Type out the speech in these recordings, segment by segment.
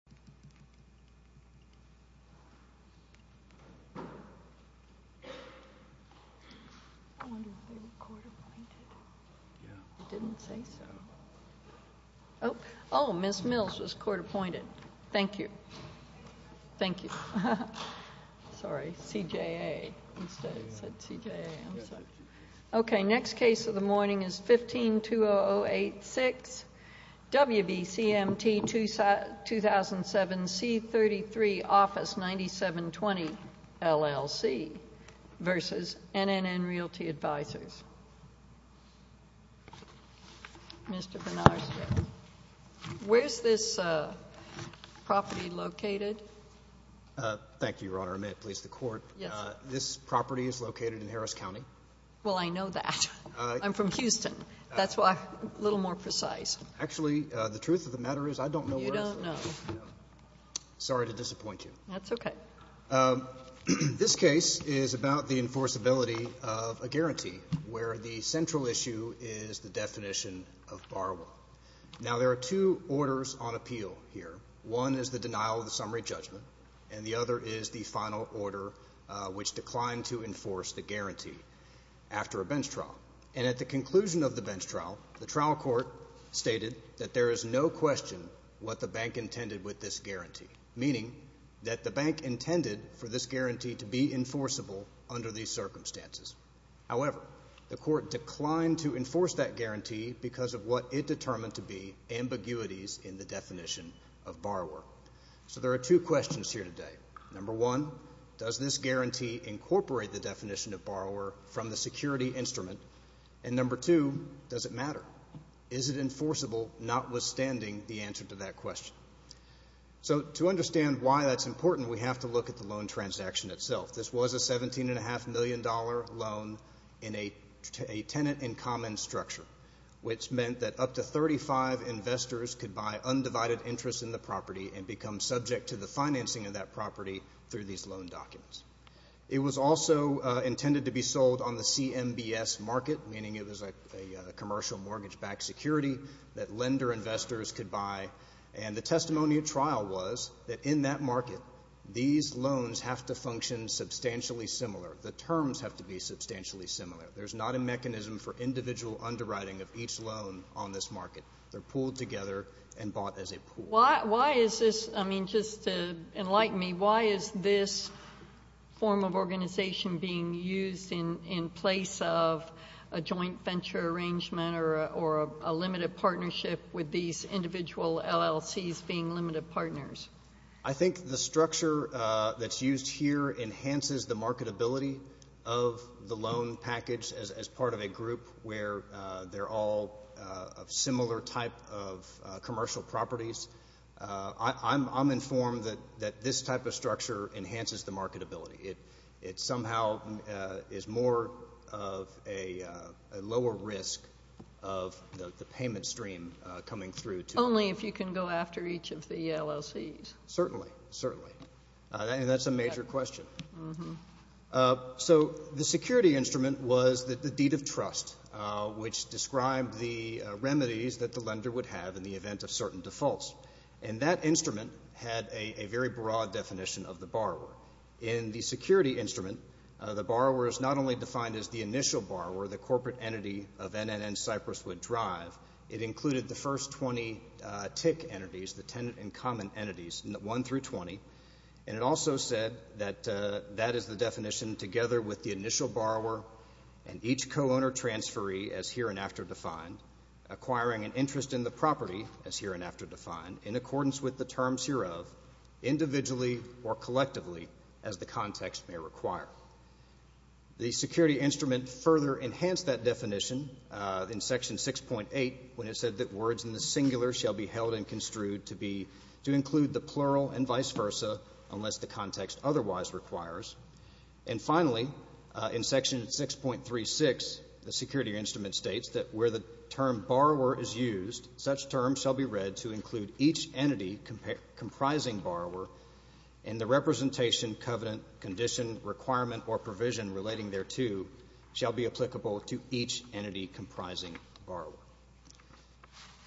1520086 WBCMT 2007 C33 Office 9720 LLC v NNN Realty Advises Mr. Bernarski, where's this property located? Thank you, Your Honor. May it please the Court? Yes. This property is located in Harris County. Well, I know that. I'm from Houston. That's why I'm a little more precise. Actually, the truth of the matter is I don't know where it is. You don't know. Sorry to disappoint you. That's okay. This case is about the enforceability of a guarantee, where the central issue is the definition of borrower. Now, there are two orders on appeal here. One is the denial of the summary judgment, and the other is the final order, which declined to enforce the guarantee after a bench trial. And at the conclusion of the bench trial, the trial court stated that there is no question what the bank intended with this guarantee, meaning that the bank intended for this guarantee to be enforceable under these circumstances. However, the court declined to enforce that guarantee because of what it determined to be ambiguities in the definition of borrower. So there are two questions here today. Number one, does this guarantee incorporate the definition of borrower from the security instrument? And number two, does it matter? Is it enforceable, notwithstanding the answer to that question? So to understand why that's important, we have to look at the loan transaction itself. This was a $17.5 million loan in a tenant-in-common structure, which meant that up to 35 investors could buy undivided interest in the property and become subject to the financing of that property through these loan documents. It was also intended to be sold on the CMBS market, meaning it was a commercial mortgage-backed security that lender investors could buy. And the testimony at trial was that in that market, these loans have to function substantially similar. The terms have to be substantially similar. There's not a mechanism for individual underwriting of each loan on this market. They're pooled together and bought as a pool. Why is this, I mean, just to enlighten me, why is this form of organization being used in place of a joint venture arrangement or a limited partnership with these individual LLCs being limited partners? I think the structure that's used here enhances the marketability of the loan package as part of a group where they're all of similar type of commercial properties. I'm informed that this type of structure enhances the marketability. It somehow is more of a lower risk of the payment stream coming through to— Only if you can go after each of the LLCs. Certainly, certainly. And that's a major question. So the security instrument was the deed of trust, which described the remedies that the lender would have in the event of certain defaults. And that instrument had a very broad definition of the borrower. In the security instrument, the borrower is not only defined as the initial borrower, the corporate entity of NNN Cyprus would drive. It included the first 20 TIC entities, the tenant and common entities, 1 through 20. And it also said that that is the definition together with the initial borrower and each co-owner transferee as hereinafter defined, acquiring an interest in the property, as hereinafter defined, in accordance with the terms hereof, individually or collectively, as the context may require. The security instrument further enhanced that definition in Section 6.8 when it said that words in the singular shall be held and construed to be— unless the context otherwise requires. And finally, in Section 6.36, the security instrument states that where the term borrower is used, such terms shall be read to include each entity comprising borrower and the representation, covenant, condition, requirement, or provision relating thereto shall be applicable to each entity comprising borrower.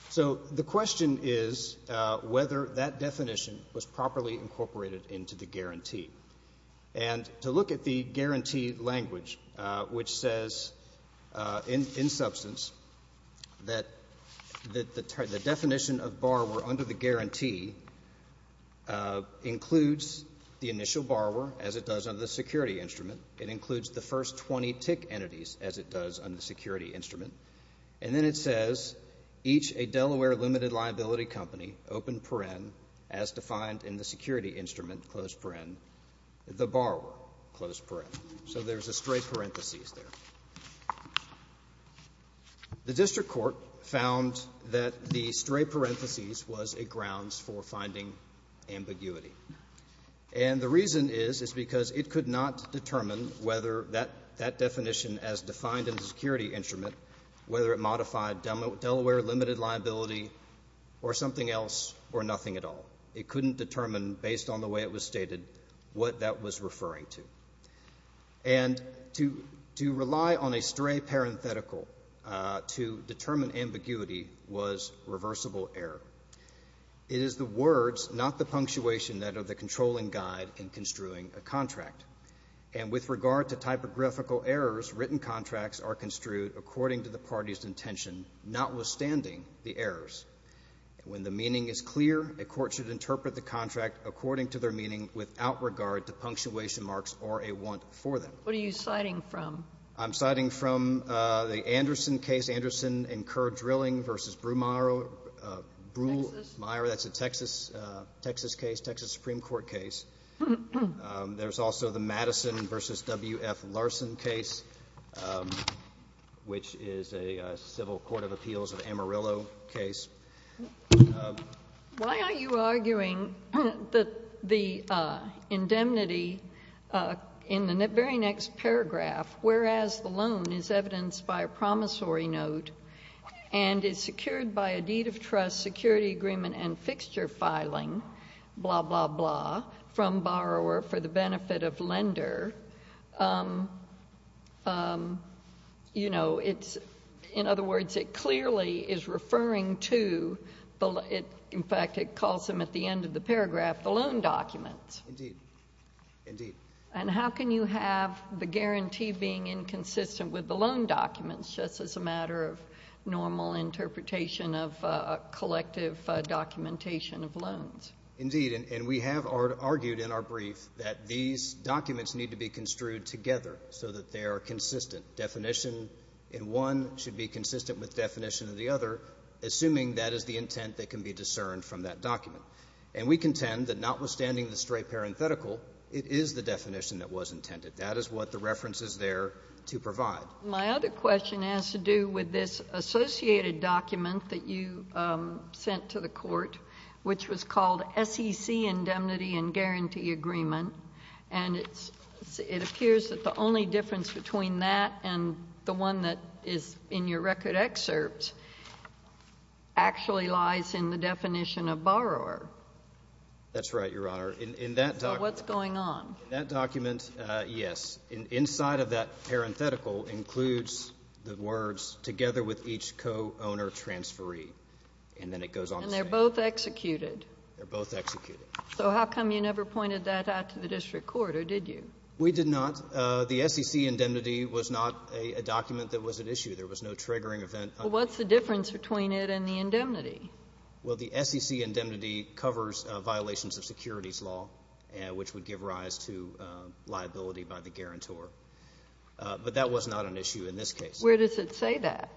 So the question is whether that definition was properly incorporated into the guarantee. And to look at the guarantee language, which says in substance that the definition of borrower under the guarantee includes the initial borrower, as it does under the security instrument. It includes the first 20 TIC entities, as it does under the security instrument. And then it says, each a Delaware limited liability company, open paren, as defined in the security instrument, closed paren, the borrower, closed paren. So there's a stray parenthesis there. The district court found that the stray parenthesis was a grounds for finding ambiguity. And the reason is, is because it could not determine whether that definition as defined in the security instrument, whether it modified Delaware limited liability or something else or nothing at all. It couldn't determine, based on the way it was stated, what that was referring to. And to rely on a stray parenthetical to determine ambiguity was reversible error. It is the words, not the punctuation, that are the controlling guide in construing a contract. And with regard to typographical errors, written contracts are construed according to the party's intention, notwithstanding the errors. When the meaning is clear, a court should interpret the contract according to their meaning without regard to punctuation marks or a want for them. What are you citing from? I'm citing from the Anderson case, Anderson and Kerr drilling versus Brewmeyer. Brewmeyer, that's a Texas case, Texas Supreme Court case. There's also the Madison versus W.F. Larson case, which is a civil court of appeals of Amarillo case. Why are you arguing that the indemnity in the very next paragraph, whereas the loan is evidenced by a promissory note and is secured by a deed of trust, a security agreement and fixture filing, blah, blah, blah, from borrower for the benefit of lender, you know, it's, in other words, it clearly is referring to, in fact, it calls them at the end of the paragraph, the loan documents. Indeed. Indeed. And how can you have the guarantee being inconsistent with the loan documents just as a matter of normal interpretation of collective documentation of loans? Indeed. And we have argued in our brief that these documents need to be construed together so that they are consistent. Definition in one should be consistent with definition in the other, assuming that is the intent that can be discerned from that document. And we contend that notwithstanding the straight parenthetical, it is the definition that was intended. That is what the reference is there to provide. My other question has to do with this associated document that you sent to the court, which was called SEC Indemnity and Guarantee Agreement, and it appears that the only difference between that and the one that is in your record excerpt actually lies in the definition of borrower. That's right, Your Honor. So what's going on? That document, yes, inside of that parenthetical includes the words together with each co-owner transferee, and then it goes on the same. And they're both executed? They're both executed. So how come you never pointed that out to the district court, or did you? We did not. The SEC Indemnity was not a document that was at issue. There was no triggering event. Well, what's the difference between it and the Indemnity? Well, the SEC Indemnity covers violations of securities law, which would give rise to liability by the guarantor. But that was not an issue in this case. Where does it say that?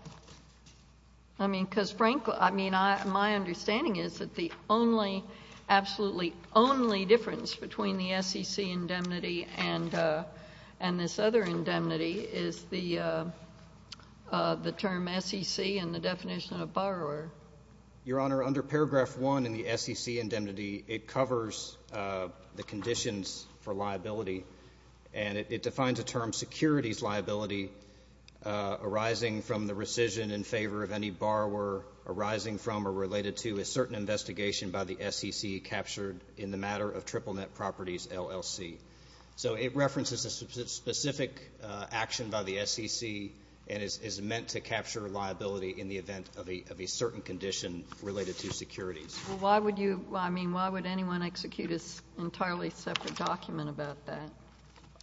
I mean, because, frankly, my understanding is that the only, absolutely only difference between the SEC Indemnity and this other indemnity is the term SEC and the definition of borrower. Your Honor, under Paragraph 1 in the SEC Indemnity, it covers the conditions for liability, and it defines a term securities liability arising from the rescission in favor of any borrower arising from or related to a certain investigation by the SEC captured in the matter of Triple Net Properties LLC. So it references a specific action by the SEC and is meant to capture liability in the event of a certain condition related to securities. Well, why would you, I mean, why would anyone execute an entirely separate document about that?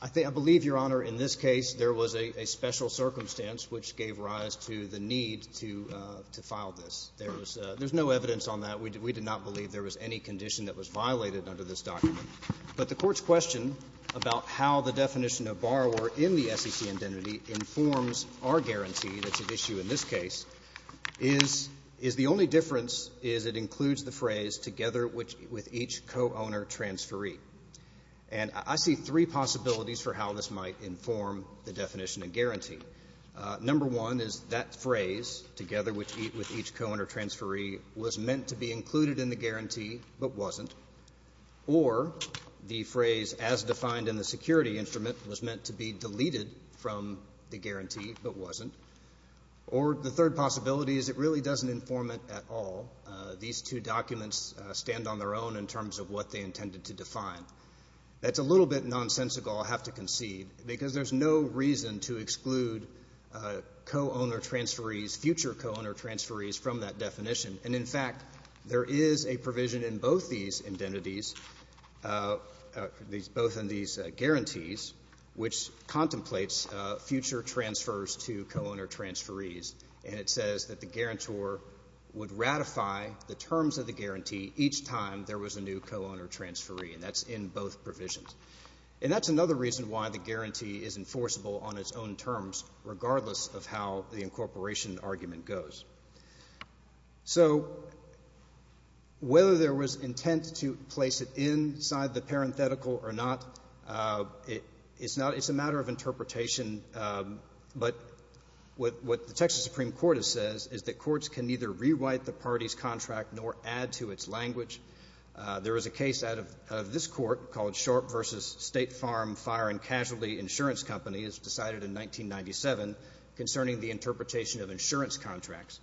I believe, Your Honor, in this case there was a special circumstance which gave rise to the need to file this. There was no evidence on that. We did not believe there was any condition that was violated under this document. But the Court's question about how the definition of borrower in the SEC Indemnity informs our guarantee that's at issue in this case is the only difference is it includes the phrase, together with each co-owner transferee. And I see three possibilities for how this might inform the definition and guarantee. Number one is that phrase, together with each co-owner transferee, was meant to be included in the guarantee but wasn't. Or the phrase, as defined in the security instrument, was meant to be deleted from the guarantee but wasn't. Or the third possibility is it really doesn't inform it at all. These two documents stand on their own in terms of what they intended to define. That's a little bit nonsensical, I have to concede, because there's no reason to exclude co-owner transferees, future co-owner transferees, from that definition. And, in fact, there is a provision in both these indentities, both in these guarantees, which contemplates future transfers to co-owner transferees. And it says that the guarantor would ratify the terms of the guarantee each time there was a new co-owner transferee. And that's in both provisions. And that's another reason why the guarantee is enforceable on its own terms, regardless of how the incorporation argument goes. So whether there was intent to place it inside the parenthetical or not, it's a matter of interpretation. But what the Texas Supreme Court has said is that courts can neither rewrite the party's contract nor add to its language. There was a case out of this Court called Sharp v. State Farm Fire and Casualty Insurance Companies, decided in 1997, concerning the interpretation of insurance contracts,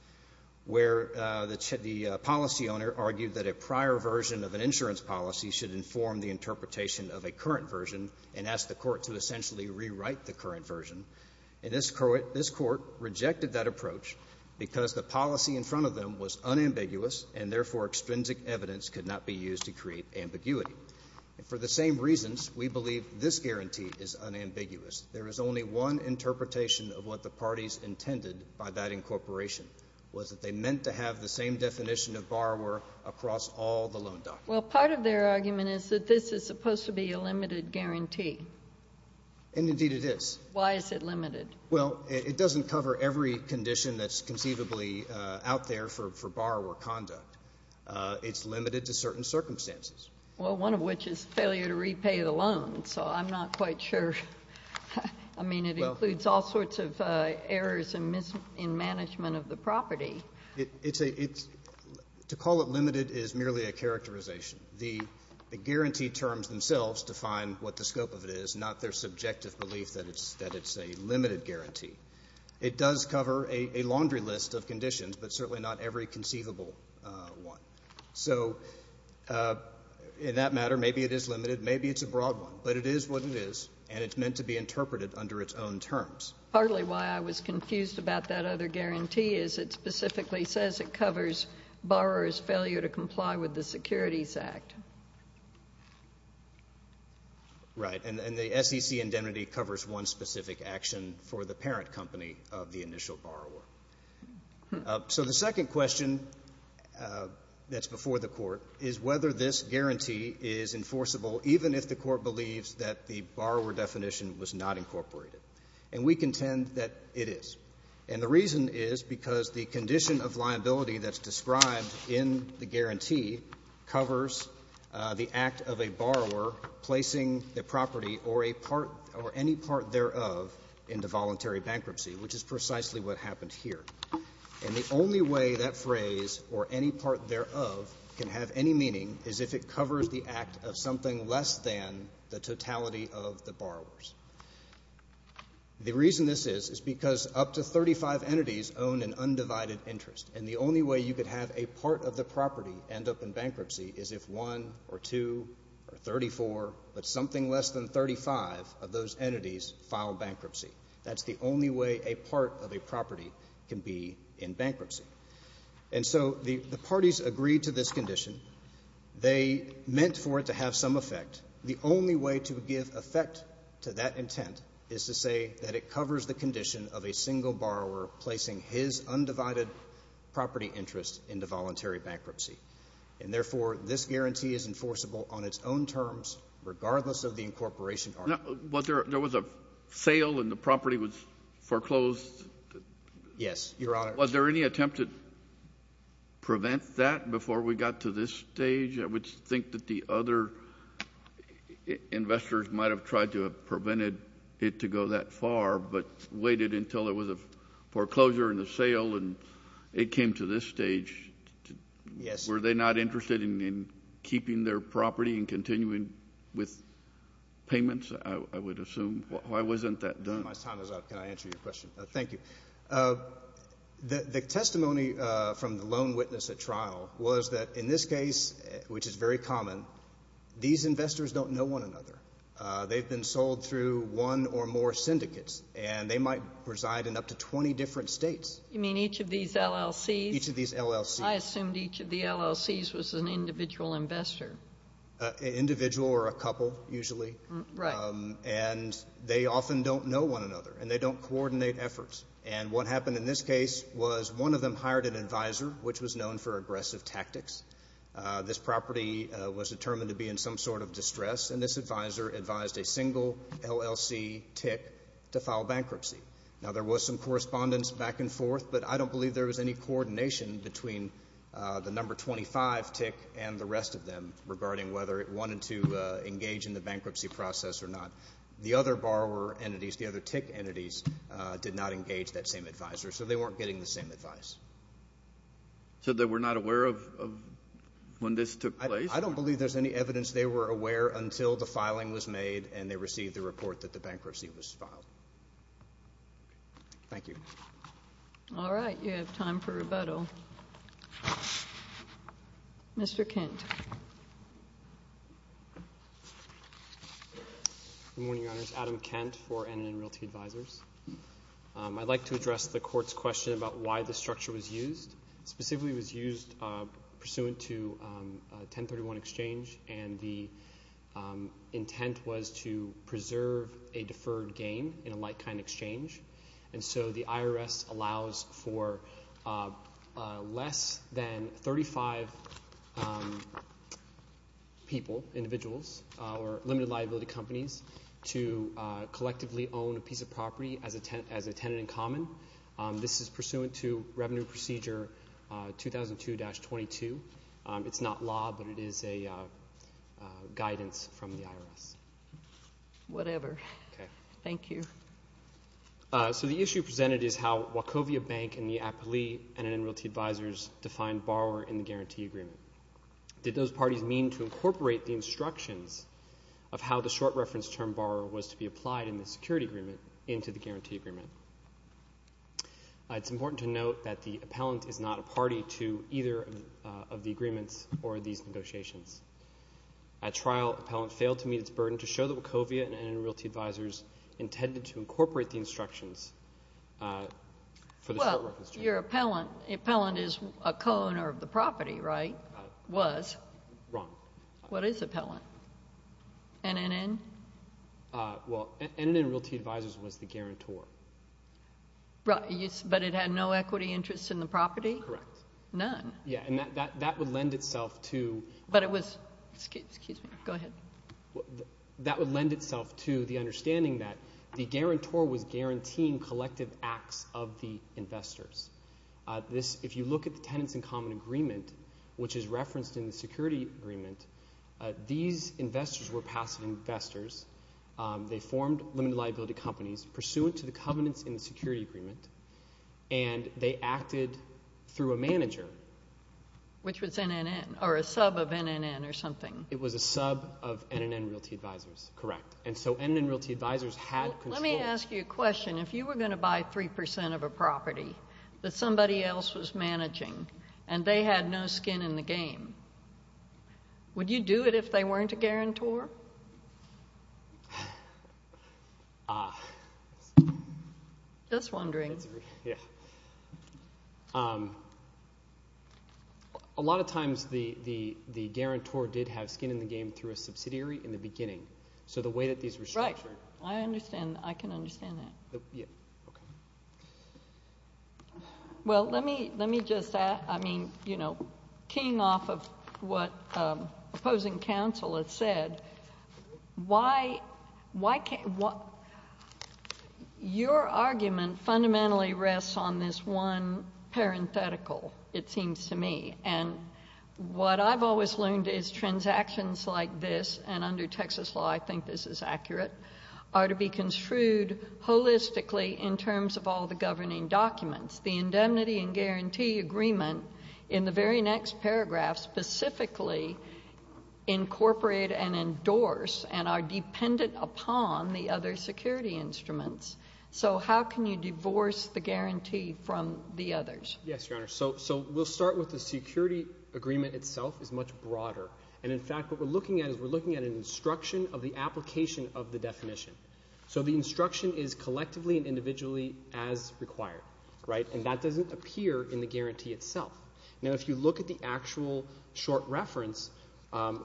where the policy owner argued that a prior version of an insurance policy should inform the interpretation of a current version and asked the Court to essentially rewrite the current version. And this Court rejected that approach because the policy in front of them was unambiguous and, therefore, extrinsic evidence could not be used to create ambiguity. For the same reasons, we believe this guarantee is unambiguous. There is only one interpretation of what the parties intended by that incorporation, was that they meant to have the same definition of borrower across all the loan documents. Well, part of their argument is that this is supposed to be a limited guarantee. And, indeed, it is. Why is it limited? Well, it doesn't cover every condition that's conceivably out there for borrower conduct. It's limited to certain circumstances. Well, one of which is failure to repay the loan, so I'm not quite sure. I mean, it includes all sorts of errors in management of the property. It's a — to call it limited is merely a characterization. The guarantee terms themselves define what the scope of it is, not their subjective belief that it's a limited guarantee. It does cover a laundry list of conditions, but certainly not every conceivable one. So in that matter, maybe it is limited, maybe it's a broad one. But it is what it is, and it's meant to be interpreted under its own terms. Partly why I was confused about that other guarantee is it specifically says it covers borrower's failure to comply with the Securities Act. Right. And the SEC indemnity covers one specific action for the parent company of the initial borrower. So the second question that's before the Court is whether this guarantee is enforceable even if the Court believes that the borrower definition was not incorporated. And we contend that it is. And the reason is because the condition of liability that's described in the guarantee covers the act of a borrower placing the property or a part — or any part thereof into voluntary bankruptcy, which is precisely what happened here. And the only way that phrase, or any part thereof, can have any meaning is if it covers the act of something less than the totality of the borrowers. The reason this is is because up to 35 entities own an undivided interest. And the only way you could have a part of the property end up in bankruptcy is if one or two or 34, but something less than 35, of those entities file bankruptcy. That's the only way a part of a property can be in bankruptcy. And so the parties agreed to this condition. They meant for it to have some effect. The only way to give effect to that intent is to say that it covers the condition of a single borrower placing his undivided property interest into voluntary bankruptcy. And therefore, this guarantee is enforceable on its own terms, regardless of the incorporation. Was there — there was a sale and the property was foreclosed? Yes, Your Honor. Was there any attempt to prevent that before we got to this stage? I would think that the other investors might have tried to have prevented it to go that far but waited until there was a foreclosure in the sale and it came to this stage. Yes. Were they not interested in keeping their property and continuing with payments, I would assume? Why wasn't that done? My time is up. Can I answer your question? Thank you. The testimony from the loan witness at trial was that in this case, which is very common, these investors don't know one another. They've been sold through one or more syndicates, and they might reside in up to 20 different states. You mean each of these LLCs? Each of these LLCs. I assumed each of the LLCs was an individual investor. Individual or a couple, usually. Right. They often don't know one another, and they don't coordinate efforts. What happened in this case was one of them hired an advisor, which was known for aggressive tactics. This property was determined to be in some sort of distress, and this advisor advised a single LLC tick to file bankruptcy. Now, there was some correspondence back and forth, but I don't believe there was any coordination between the number 25 tick and the rest of them regarding whether it wanted to engage in the bankruptcy process or not. The other borrower entities, the other tick entities, did not engage that same advisor, so they weren't getting the same advice. So they were not aware of when this took place? I don't believe there's any evidence they were aware until the filing was made and they received the report that the bankruptcy was filed. Thank you. All right. You have time for rebuttal. Mr. Kent. Good morning, Your Honors. Adam Kent for NNN Realty Advisors. I'd like to address the Court's question about why the structure was used. Specifically, it was used pursuant to 1031 exchange, and the intent was to preserve a deferred gain in a like-kind exchange. And so the IRS allows for less than 35 people, individuals, or limited liability companies to collectively own a piece of property as a tenant in common. This is pursuant to Revenue Procedure 2002-22. It's not law, but it is a guidance from the IRS. Whatever. Okay. Thank you. So the issue presented is how Wachovia Bank and the appellee NNN Realty Advisors defined borrower in the guarantee agreement. Did those parties mean to incorporate the instructions of how the short reference term borrower was to be applied in the security agreement into the guarantee agreement? It's important to note that the appellant is not a party to either of the agreements or these negotiations. At trial, appellant failed to meet its burden to show that Wachovia and NNN Realty Advisors intended to incorporate the instructions for the short reference term. Well, your appellant is a co-owner of the property, right? Was. Wrong. What is appellant? NNN? Well, NNN Realty Advisors was the guarantor. But it had no equity interest in the property? Correct. None. Yeah, and that would lend itself to. But it was. Excuse me. Go ahead. That would lend itself to the understanding that the guarantor was guaranteeing collective acts of the investors. If you look at the tenants in common agreement, which is referenced in the security agreement, these investors were passive investors. They formed limited liability companies pursuant to the covenants in the security agreement, and they acted through a manager. Which was NNN or a sub of NNN or something. It was a sub of NNN Realty Advisors. Correct. And so NNN Realty Advisors had. Let me ask you a question. If you were going to buy 3% of a property that somebody else was managing and they had no skin in the game, would you do it if they weren't a guarantor? Just wondering. Yeah. A lot of times the guarantor did have skin in the game through a subsidiary in the beginning. So the way that these were structured. Right. I understand. I can understand that. Yeah. Okay. Well, let me just add, I mean, you know, keying off of what opposing counsel has said, your argument fundamentally rests on this one parenthetical, it seems to me. And what I've always learned is transactions like this, and under Texas law I think this is accurate, are to be construed holistically in terms of all the governing documents. The indemnity and guarantee agreement in the very next paragraph specifically incorporate and endorse and are dependent upon the other security instruments. So how can you divorce the guarantee from the others? Yes, Your Honor. So we'll start with the security agreement itself is much broader. And, in fact, what we're looking at is we're looking at an instruction of the application of the definition. So the instruction is collectively and individually as required. Right. And that doesn't appear in the guarantee itself. Now, if you look at the actual short reference,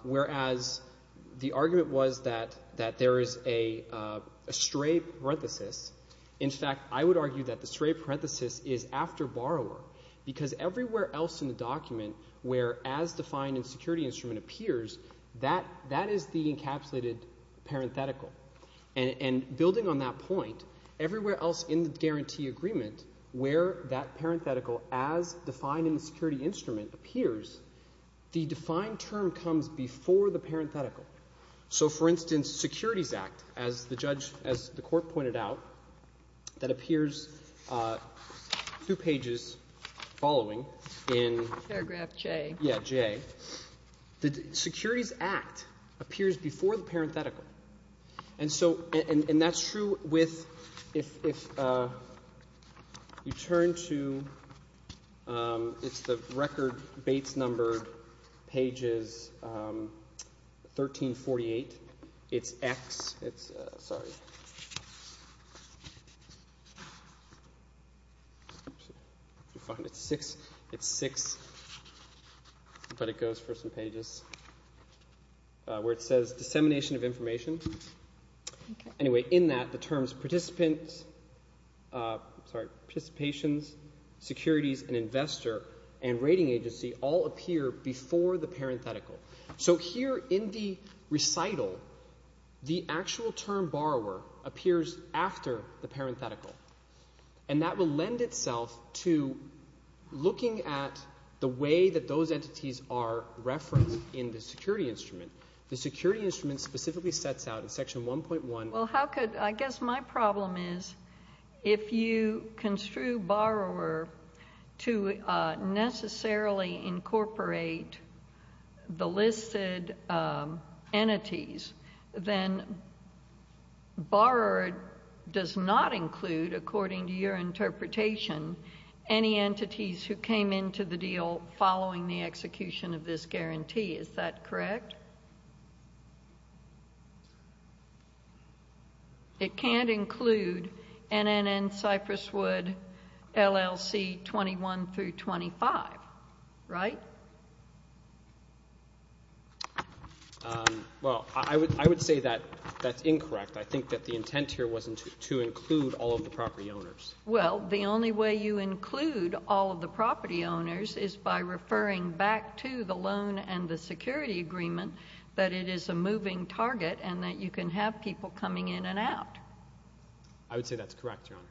whereas the argument was that there is a stray parenthesis, in fact, I would argue that the stray parenthesis is after borrower because everywhere else in the document where as defined in security instrument appears, that is the encapsulated parenthetical. And building on that point, everywhere else in the guarantee agreement where that parenthetical as defined in the security instrument appears, the defined term comes before the parenthetical. So, for instance, Securities Act, as the court pointed out, that appears two pages following in paragraph J. Yeah, J. The Securities Act appears before the parenthetical. And that's true if you turn to – it's the record Bates numbered pages 1348. It's X. Sorry. It's six, but it goes for some pages where it says dissemination of information. Anyway, in that, the terms participants – sorry, participations, securities, an investor, and rating agency all appear before the parenthetical. So here in the recital, the actual term borrower appears after the parenthetical. And that will lend itself to looking at the way that those entities are referenced in the security instrument. The security instrument specifically sets out in section 1.1 – Well, how could – I guess my problem is if you construe borrower to necessarily incorporate the listed entities, then borrower does not include, according to your interpretation, any entities who came into the deal following the execution of this guarantee. Is that correct? It can't include NNN, Cypresswood, LLC 21 through 25, right? Well, I would say that that's incorrect. I think that the intent here wasn't to include all of the property owners. Well, the only way you include all of the property owners is by referring back to the loan and the security agreement that it is a moving target and that you can have people coming in and out. I would say that's correct, Your Honor.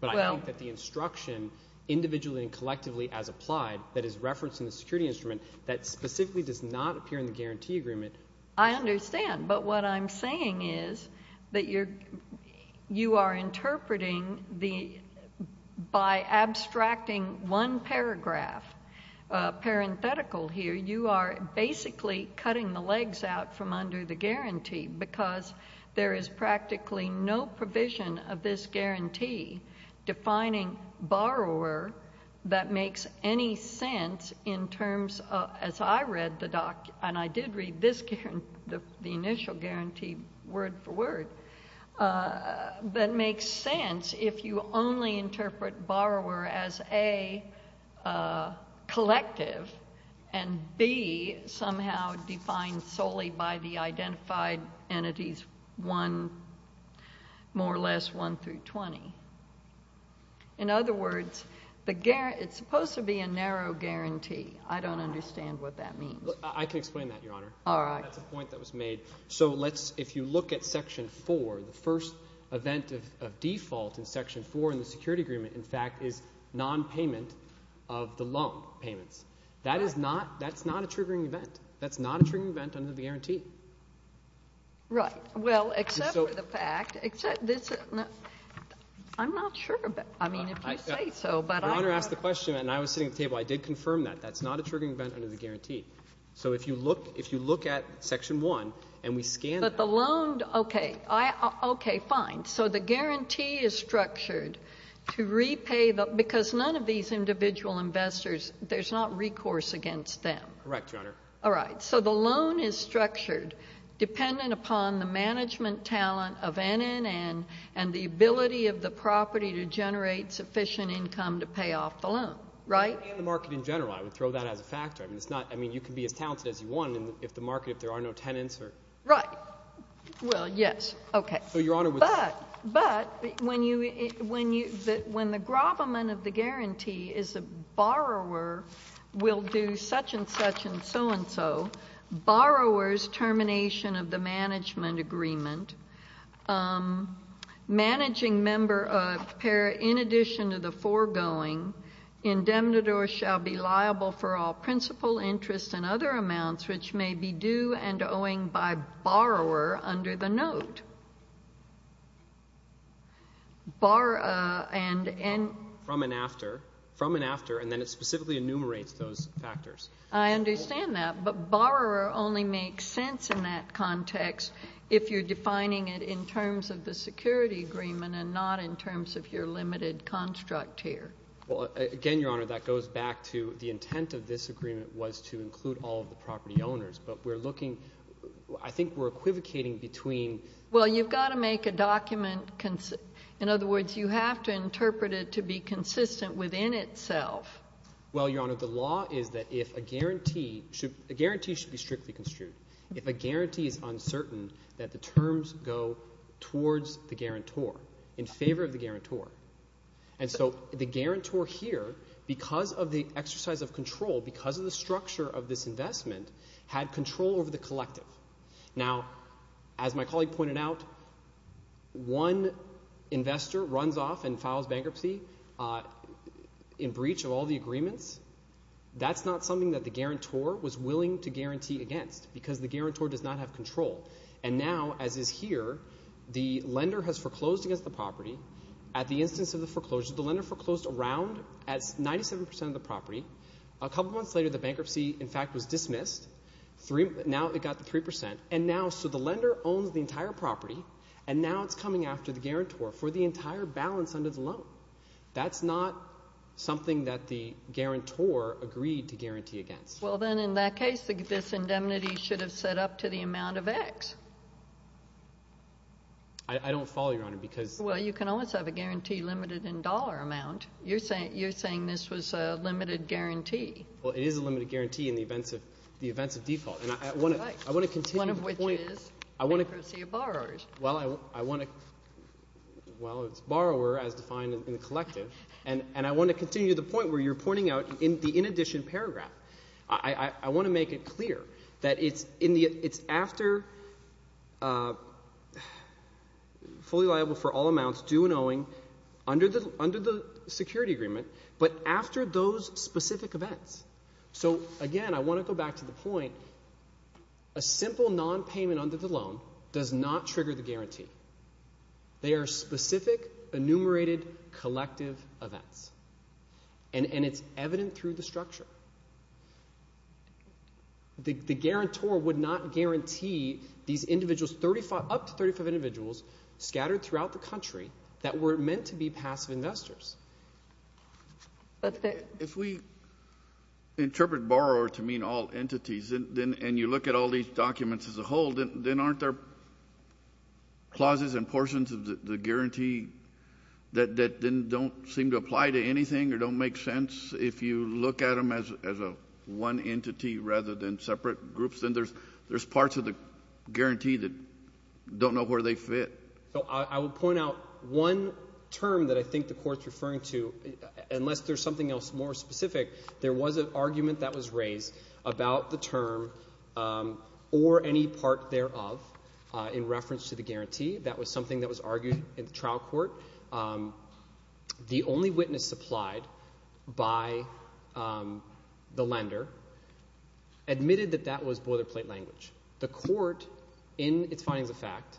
But I think that the instruction individually and collectively as applied that is referenced in the security instrument that specifically does not appear in the guarantee agreement – I understand, but what I'm saying is that you are interpreting the – from under the guarantee because there is practically no provision of this guarantee defining borrower that makes any sense in terms of – as I read the – and I did read this guarantee, the initial guarantee word for word – that makes sense if you only interpret borrower as, A, collective and, B, somehow defined solely by the identified entities 1 more or less 1 through 20. In other words, it's supposed to be a narrow guarantee. I don't understand what that means. I can explain that, Your Honor. All right. That's a point that was made. So let's – if you look at Section 4, the first event of default in Section 4 in the security agreement, in fact, is nonpayment of the loan payments. That is not – that's not a triggering event. That's not a triggering event under the guarantee. Right. Well, except for the fact – except this – I'm not sure about – I mean, if you say so, but I – Your Honor asked the question and I was sitting at the table. I did confirm that. That's not a triggering event under the guarantee. So if you look – if you look at Section 1 and we scan – But the loan – okay. Okay, fine. So the guarantee is structured to repay the – because none of these individual investors, there's not recourse against them. Correct, Your Honor. All right. So the loan is structured dependent upon the management talent of NNN and the ability of the property to generate sufficient income to pay off the loan, right? And the market in general. I would throw that as a factor. I mean, it's not – I mean, you can be as talented as you want if the market – if there are no tenants or – Right. Well, yes. Okay. So Your Honor was – But when you – when the gravamen of the guarantee is a borrower will do such and such and so and so, borrower's termination of the management agreement, managing member of – in addition to the foregoing, indemnitor shall be liable for all principal interest and other amounts which may be due and owing by borrower under the note. Borrower and – From and after. From and after. And then it specifically enumerates those factors. I understand that. But borrower only makes sense in that context if you're defining it in terms of the security agreement and not in terms of your limited construct here. Well, again, Your Honor, that goes back to the intent of this agreement was to include all of the property owners. But we're looking – I think we're equivocating between – Well, you've got to make a document – in other words, you have to interpret it to be consistent within itself. Well, Your Honor, the law is that if a guarantee – a guarantee should be strictly construed. If a guarantee is uncertain, that the terms go towards the guarantor, in favor of the guarantor. And so the guarantor here, because of the exercise of control, because of the structure of this investment, had control over the collective. Now, as my colleague pointed out, one investor runs off and files bankruptcy in breach of all the agreements. That's not something that the guarantor was willing to guarantee against because the guarantor does not have control. And now, as is here, the lender has foreclosed against the property. At the instance of the foreclosure, the lender foreclosed around 97 percent of the property. A couple months later, the bankruptcy, in fact, was dismissed. Now it got to 3 percent. And now – so the lender owns the entire property, and now it's coming after the guarantor for the entire balance under the loan. That's not something that the guarantor agreed to guarantee against. Well, then in that case, this indemnity should have set up to the amount of X. I don't follow, Your Honor, because – Well, you can always have a guarantee limited in dollar amount. You're saying this was a limited guarantee. Well, it is a limited guarantee in the events of default. And I want to continue the point – One of which is bankruptcy of borrowers. Well, I want to – well, it's borrower as defined in the collective. And I want to continue the point where you're pointing out in the in addition paragraph. I want to make it clear that it's after fully liable for all amounts due and owing under the security agreement, but after those specific events. So, again, I want to go back to the point. A simple nonpayment under the loan does not trigger the guarantee. They are specific, enumerated, collective events. And it's evident through the structure. The guarantor would not guarantee these individuals – up to 35 individuals scattered throughout the country that were meant to be passive investors. If we interpret borrower to mean all entities, and you look at all these documents as a whole, then aren't there clauses and portions of the guarantee that then don't seem to apply to anything or don't make sense? If you look at them as a one entity rather than separate groups, then there's parts of the guarantee that don't know where they fit. So I will point out one term that I think the court is referring to. Unless there's something else more specific, there was an argument that was raised about the term or any part thereof in reference to the guarantee. That was something that was argued in the trial court. The only witness supplied by the lender admitted that that was boilerplate language. The court, in its findings of fact,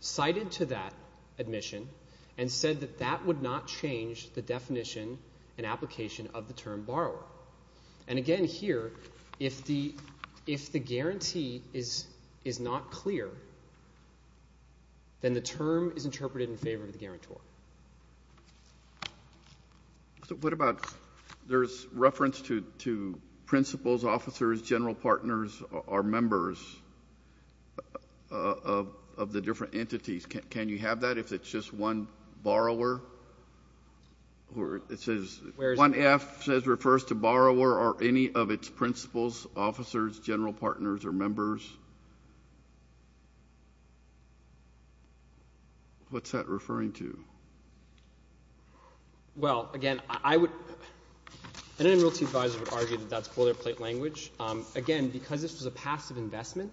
cited to that admission and said that that would not change the definition and application of the term borrower. And again here, if the guarantee is not clear, then the term is interpreted in favor of the guarantor. So what about there's reference to principals, officers, general partners, or members of the different entities. Can you have that if it's just one borrower? Or it says 1F refers to borrower or any of its principals, officers, general partners, or members. What's that referring to? Well, again, I would – an enrollment advisor would argue that that's boilerplate language. Again, because this was a passive investment,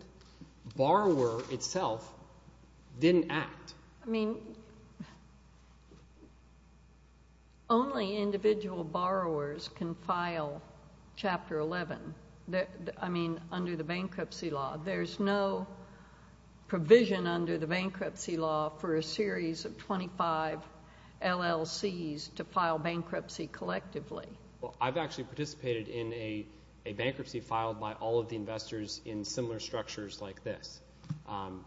borrower itself didn't act. I mean only individual borrowers can file Chapter 11. I mean under the bankruptcy law. There's no provision under the bankruptcy law for a series of 25 LLCs to file bankruptcy collectively. Well, I've actually participated in a bankruptcy filed by all of the investors in similar structures like this.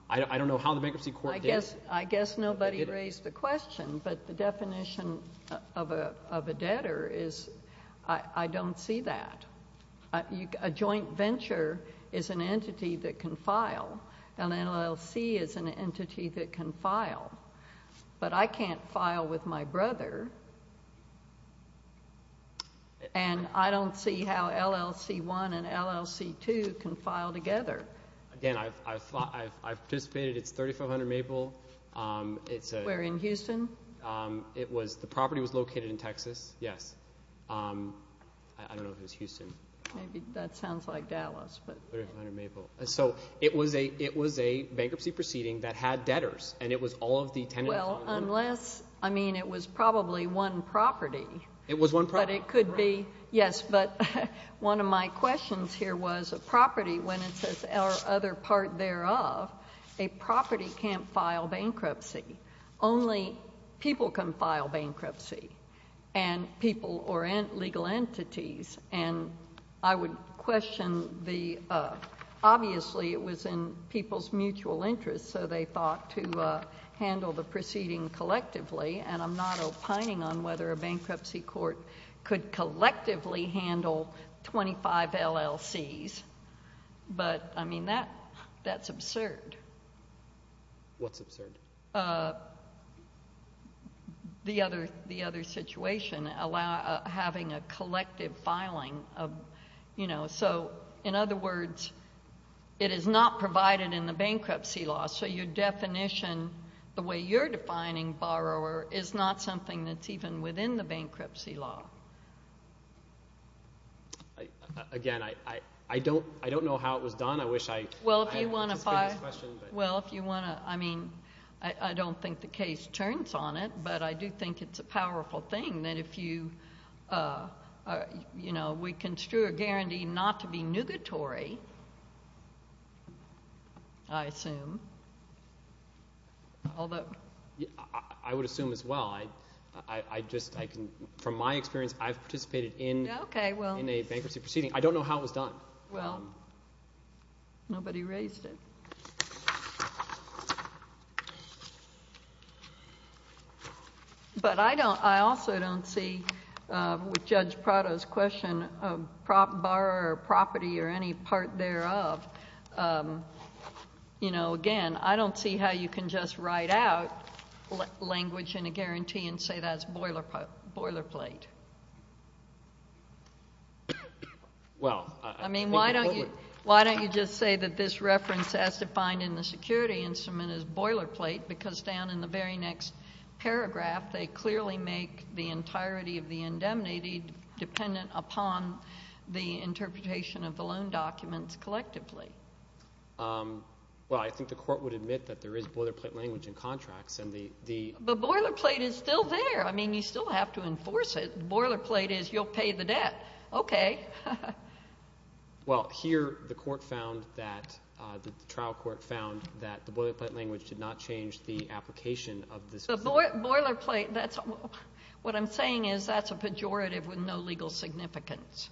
I don't know how the bankruptcy court did it. I guess nobody raised the question, but the definition of a debtor is I don't see that. A joint venture is an entity that can file. An LLC is an entity that can file. But I can't file with my brother, and I don't see how LLC1 and LLC2 can file together. Again, I've participated. It's 3,500 Maple. Where, in Houston? The property was located in Texas, yes. I don't know if it was Houston. Maybe that sounds like Dallas. 3,500 Maple. So it was a bankruptcy proceeding that had debtors, and it was all of the tenants. Well, unless – I mean it was probably one property. It was one property. But it could be. Yes, but one of my questions here was a property, when it says our other part thereof, a property can't file bankruptcy. Only people can file bankruptcy, and people or legal entities, and I would question the – obviously it was in people's mutual interest, so they thought to handle the proceeding collectively, and I'm not opining on whether a bankruptcy court could collectively handle 25 LLCs. But, I mean, that's absurd. What's absurd? The other situation, having a collective filing. So, in other words, it is not provided in the bankruptcy law. So your definition, the way you're defining borrower, is not something that's even within the bankruptcy law. Again, I don't know how it was done. I wish I had an answer to this question. Well, if you want to – I mean, I don't think the case turns on it, but I do think it's a powerful thing that if you – we construe a guarantee not to be nugatory, I assume, although – I would assume as well. I just – from my experience, I've participated in a bankruptcy proceeding. I don't know how it was done. Well, nobody raised it. But I don't – I also don't see, with Judge Prado's question, a borrower or property or any part thereof. You know, again, I don't see how you can just write out language in a guarantee and say that's boilerplate. Well, I think the court would – I mean, why don't you just say that this reference as defined in the security instrument is boilerplate because down in the very next paragraph, they clearly make the entirety of the indemnity dependent upon the interpretation of the loan documents collectively. Well, I think the court would admit that there is boilerplate language in contracts, and the – But boilerplate is still there. I mean, you still have to enforce it. Boilerplate is you'll pay the debt. Okay. Well, here the court found that – the trial court found that the boilerplate language did not change the application of this. Boilerplate, that's – what I'm saying is that's a pejorative with no legal significance.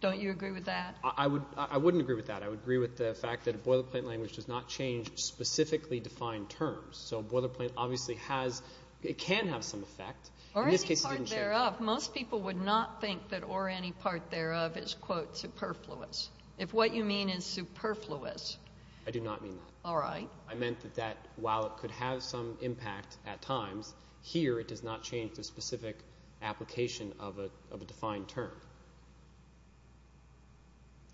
Don't you agree with that? I wouldn't agree with that. I would agree with the fact that boilerplate language does not change specifically defined terms. So boilerplate obviously has – it can have some effect. Or any part thereof. Most people would not think that or any part thereof is, quote, superfluous, if what you mean is superfluous. I do not mean that. All right. I meant that while it could have some impact at times, here it does not change the specific application of a defined term.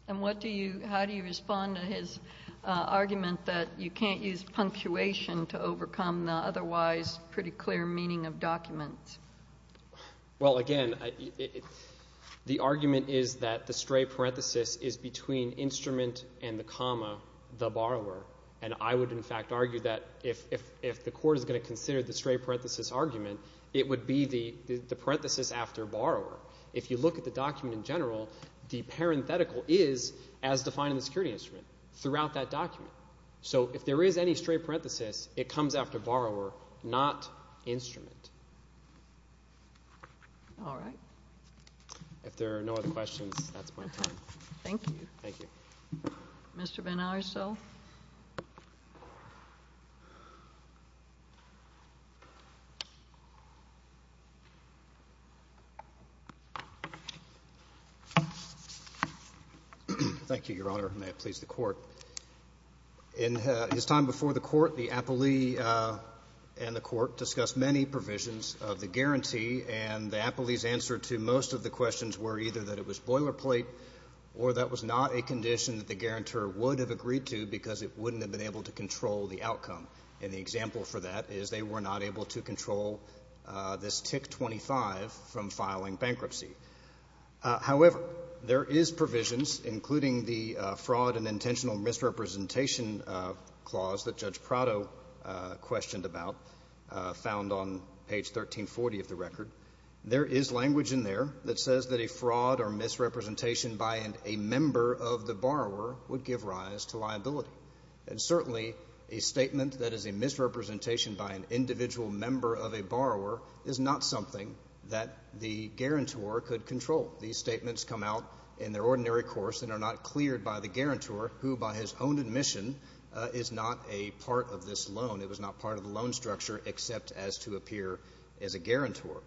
And what do you – how do you respond to his argument that you can't use punctuation to overcome the otherwise pretty clear meaning of documents? Well, again, the argument is that the stray parenthesis is between instrument and the comma, the borrower. And I would, in fact, argue that if the court is going to consider the stray parenthesis argument, it would be the parenthesis after borrower. If you look at the document in general, the parenthetical is as defined in the security instrument throughout that document. So if there is any stray parenthesis, it comes after borrower, not instrument. All right. If there are no other questions, that's my time. Thank you. Thank you. Mr. Benalli, so? Thank you, Your Honor. May it please the Court. In his time before the Court, the appellee and the Court discussed many provisions of the guarantee, and the appellee's answer to most of the questions were either that it was boilerplate or that it was not a condition that the guarantor would have agreed to because it wouldn't have been able to control the outcome. And the example for that is they were not able to control this TIC-25 from filing bankruptcy. However, there is provisions, including the fraud and intentional misrepresentation clause that Judge Prado questioned about, found on page 1340 of the record. There is language in there that says that a fraud or misrepresentation by a member of the borrower would give rise to liability. And certainly a statement that is a misrepresentation by an individual member of a borrower is not something that the guarantor could control. These statements come out in their ordinary course and are not cleared by the guarantor, who by his own admission is not a part of this loan. It was not part of the loan structure except as to appear as a guarantor.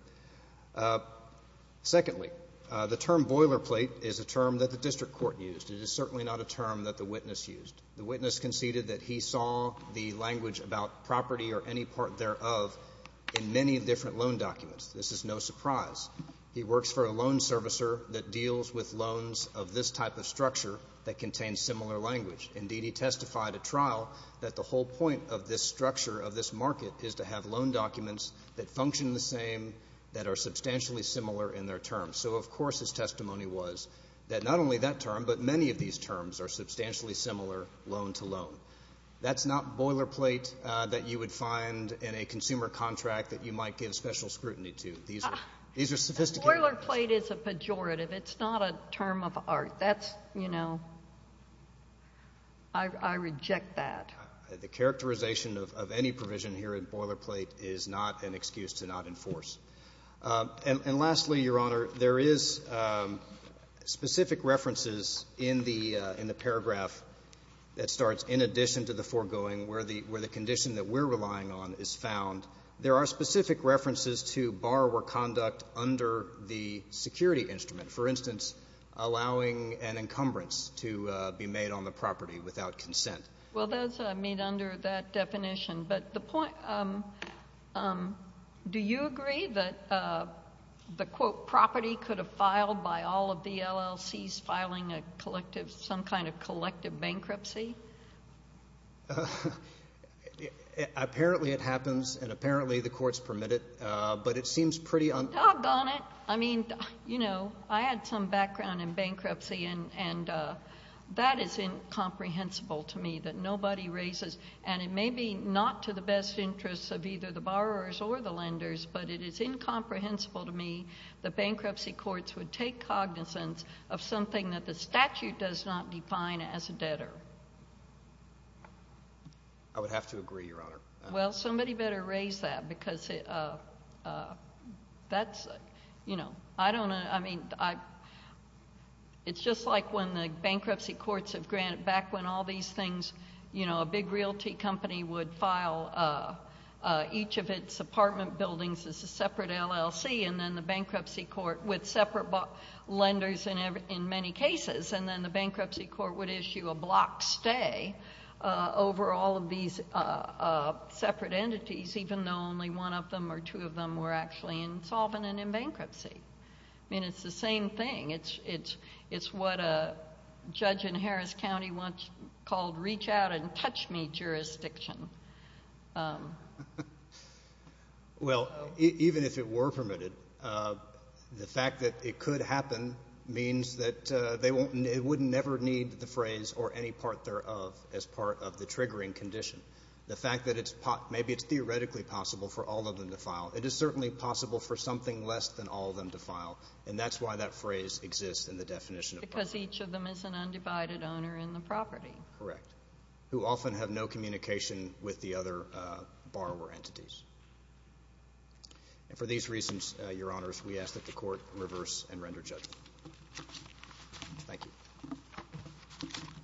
Secondly, the term boilerplate is a term that the district court used. It is certainly not a term that the witness used. The witness conceded that he saw the language about property or any part thereof in many different loan documents. This is no surprise. He works for a loan servicer that deals with loans of this type of structure that contains similar language. Indeed, he testified at trial that the whole point of this structure of this market is to have loan documents that function the same, that are substantially similar in their terms. So, of course, his testimony was that not only that term but many of these terms are substantially similar loan to loan. That's not boilerplate that you would find in a consumer contract that you might give special scrutiny to. These are sophistication. Boilerplate is a pejorative. It's not a term of art. That's, you know, I reject that. The characterization of any provision here in boilerplate is not an excuse to not enforce. And lastly, Your Honor, there is specific references in the paragraph that starts in addition to the foregoing where the condition that we're relying on is found. There are specific references to borrower conduct under the security instrument, for instance, allowing an encumbrance to be made on the property without consent. Well, that's made under that definition. But the point, do you agree that the, quote, property could have filed by all of the LLCs filing a collective, some kind of collective bankruptcy? Apparently it happens, and apparently the courts permit it, but it seems pretty un- Doggone it. I mean, you know, I had some background in bankruptcy, and that is incomprehensible to me, that nobody raises, and it may be not to the best interests of either the borrowers or the lenders, but it is incomprehensible to me that bankruptcy courts would take cognizance of something that the statute does not define as a debtor. I would have to agree, Your Honor. Well, somebody better raise that because that's, you know, I don't know. I mean, it's just like when the bankruptcy courts have granted back when all these things, you know, a big realty company would file each of its apartment buildings as a separate LLC, and then the bankruptcy court would separate lenders in many cases, and then the bankruptcy court would issue a block stay over all of these separate entities, even though only one of them or two of them were actually insolvent and in bankruptcy. I mean, it's the same thing. It's what a judge in Harris County once called reach out and touch me jurisdiction. Well, even if it were permitted, the fact that it could happen means that they wouldn't never need the phrase or any part thereof as part of the triggering condition. The fact that maybe it's theoretically possible for all of them to file, it is certainly possible for something less than all of them to file, and that's why that phrase exists in the definition of property. Because each of them is an undivided owner in the property. Correct. Who often have no communication with the other borrower entities. And for these reasons, Your Honors, we ask that the court reverse and render judgment. Thank you.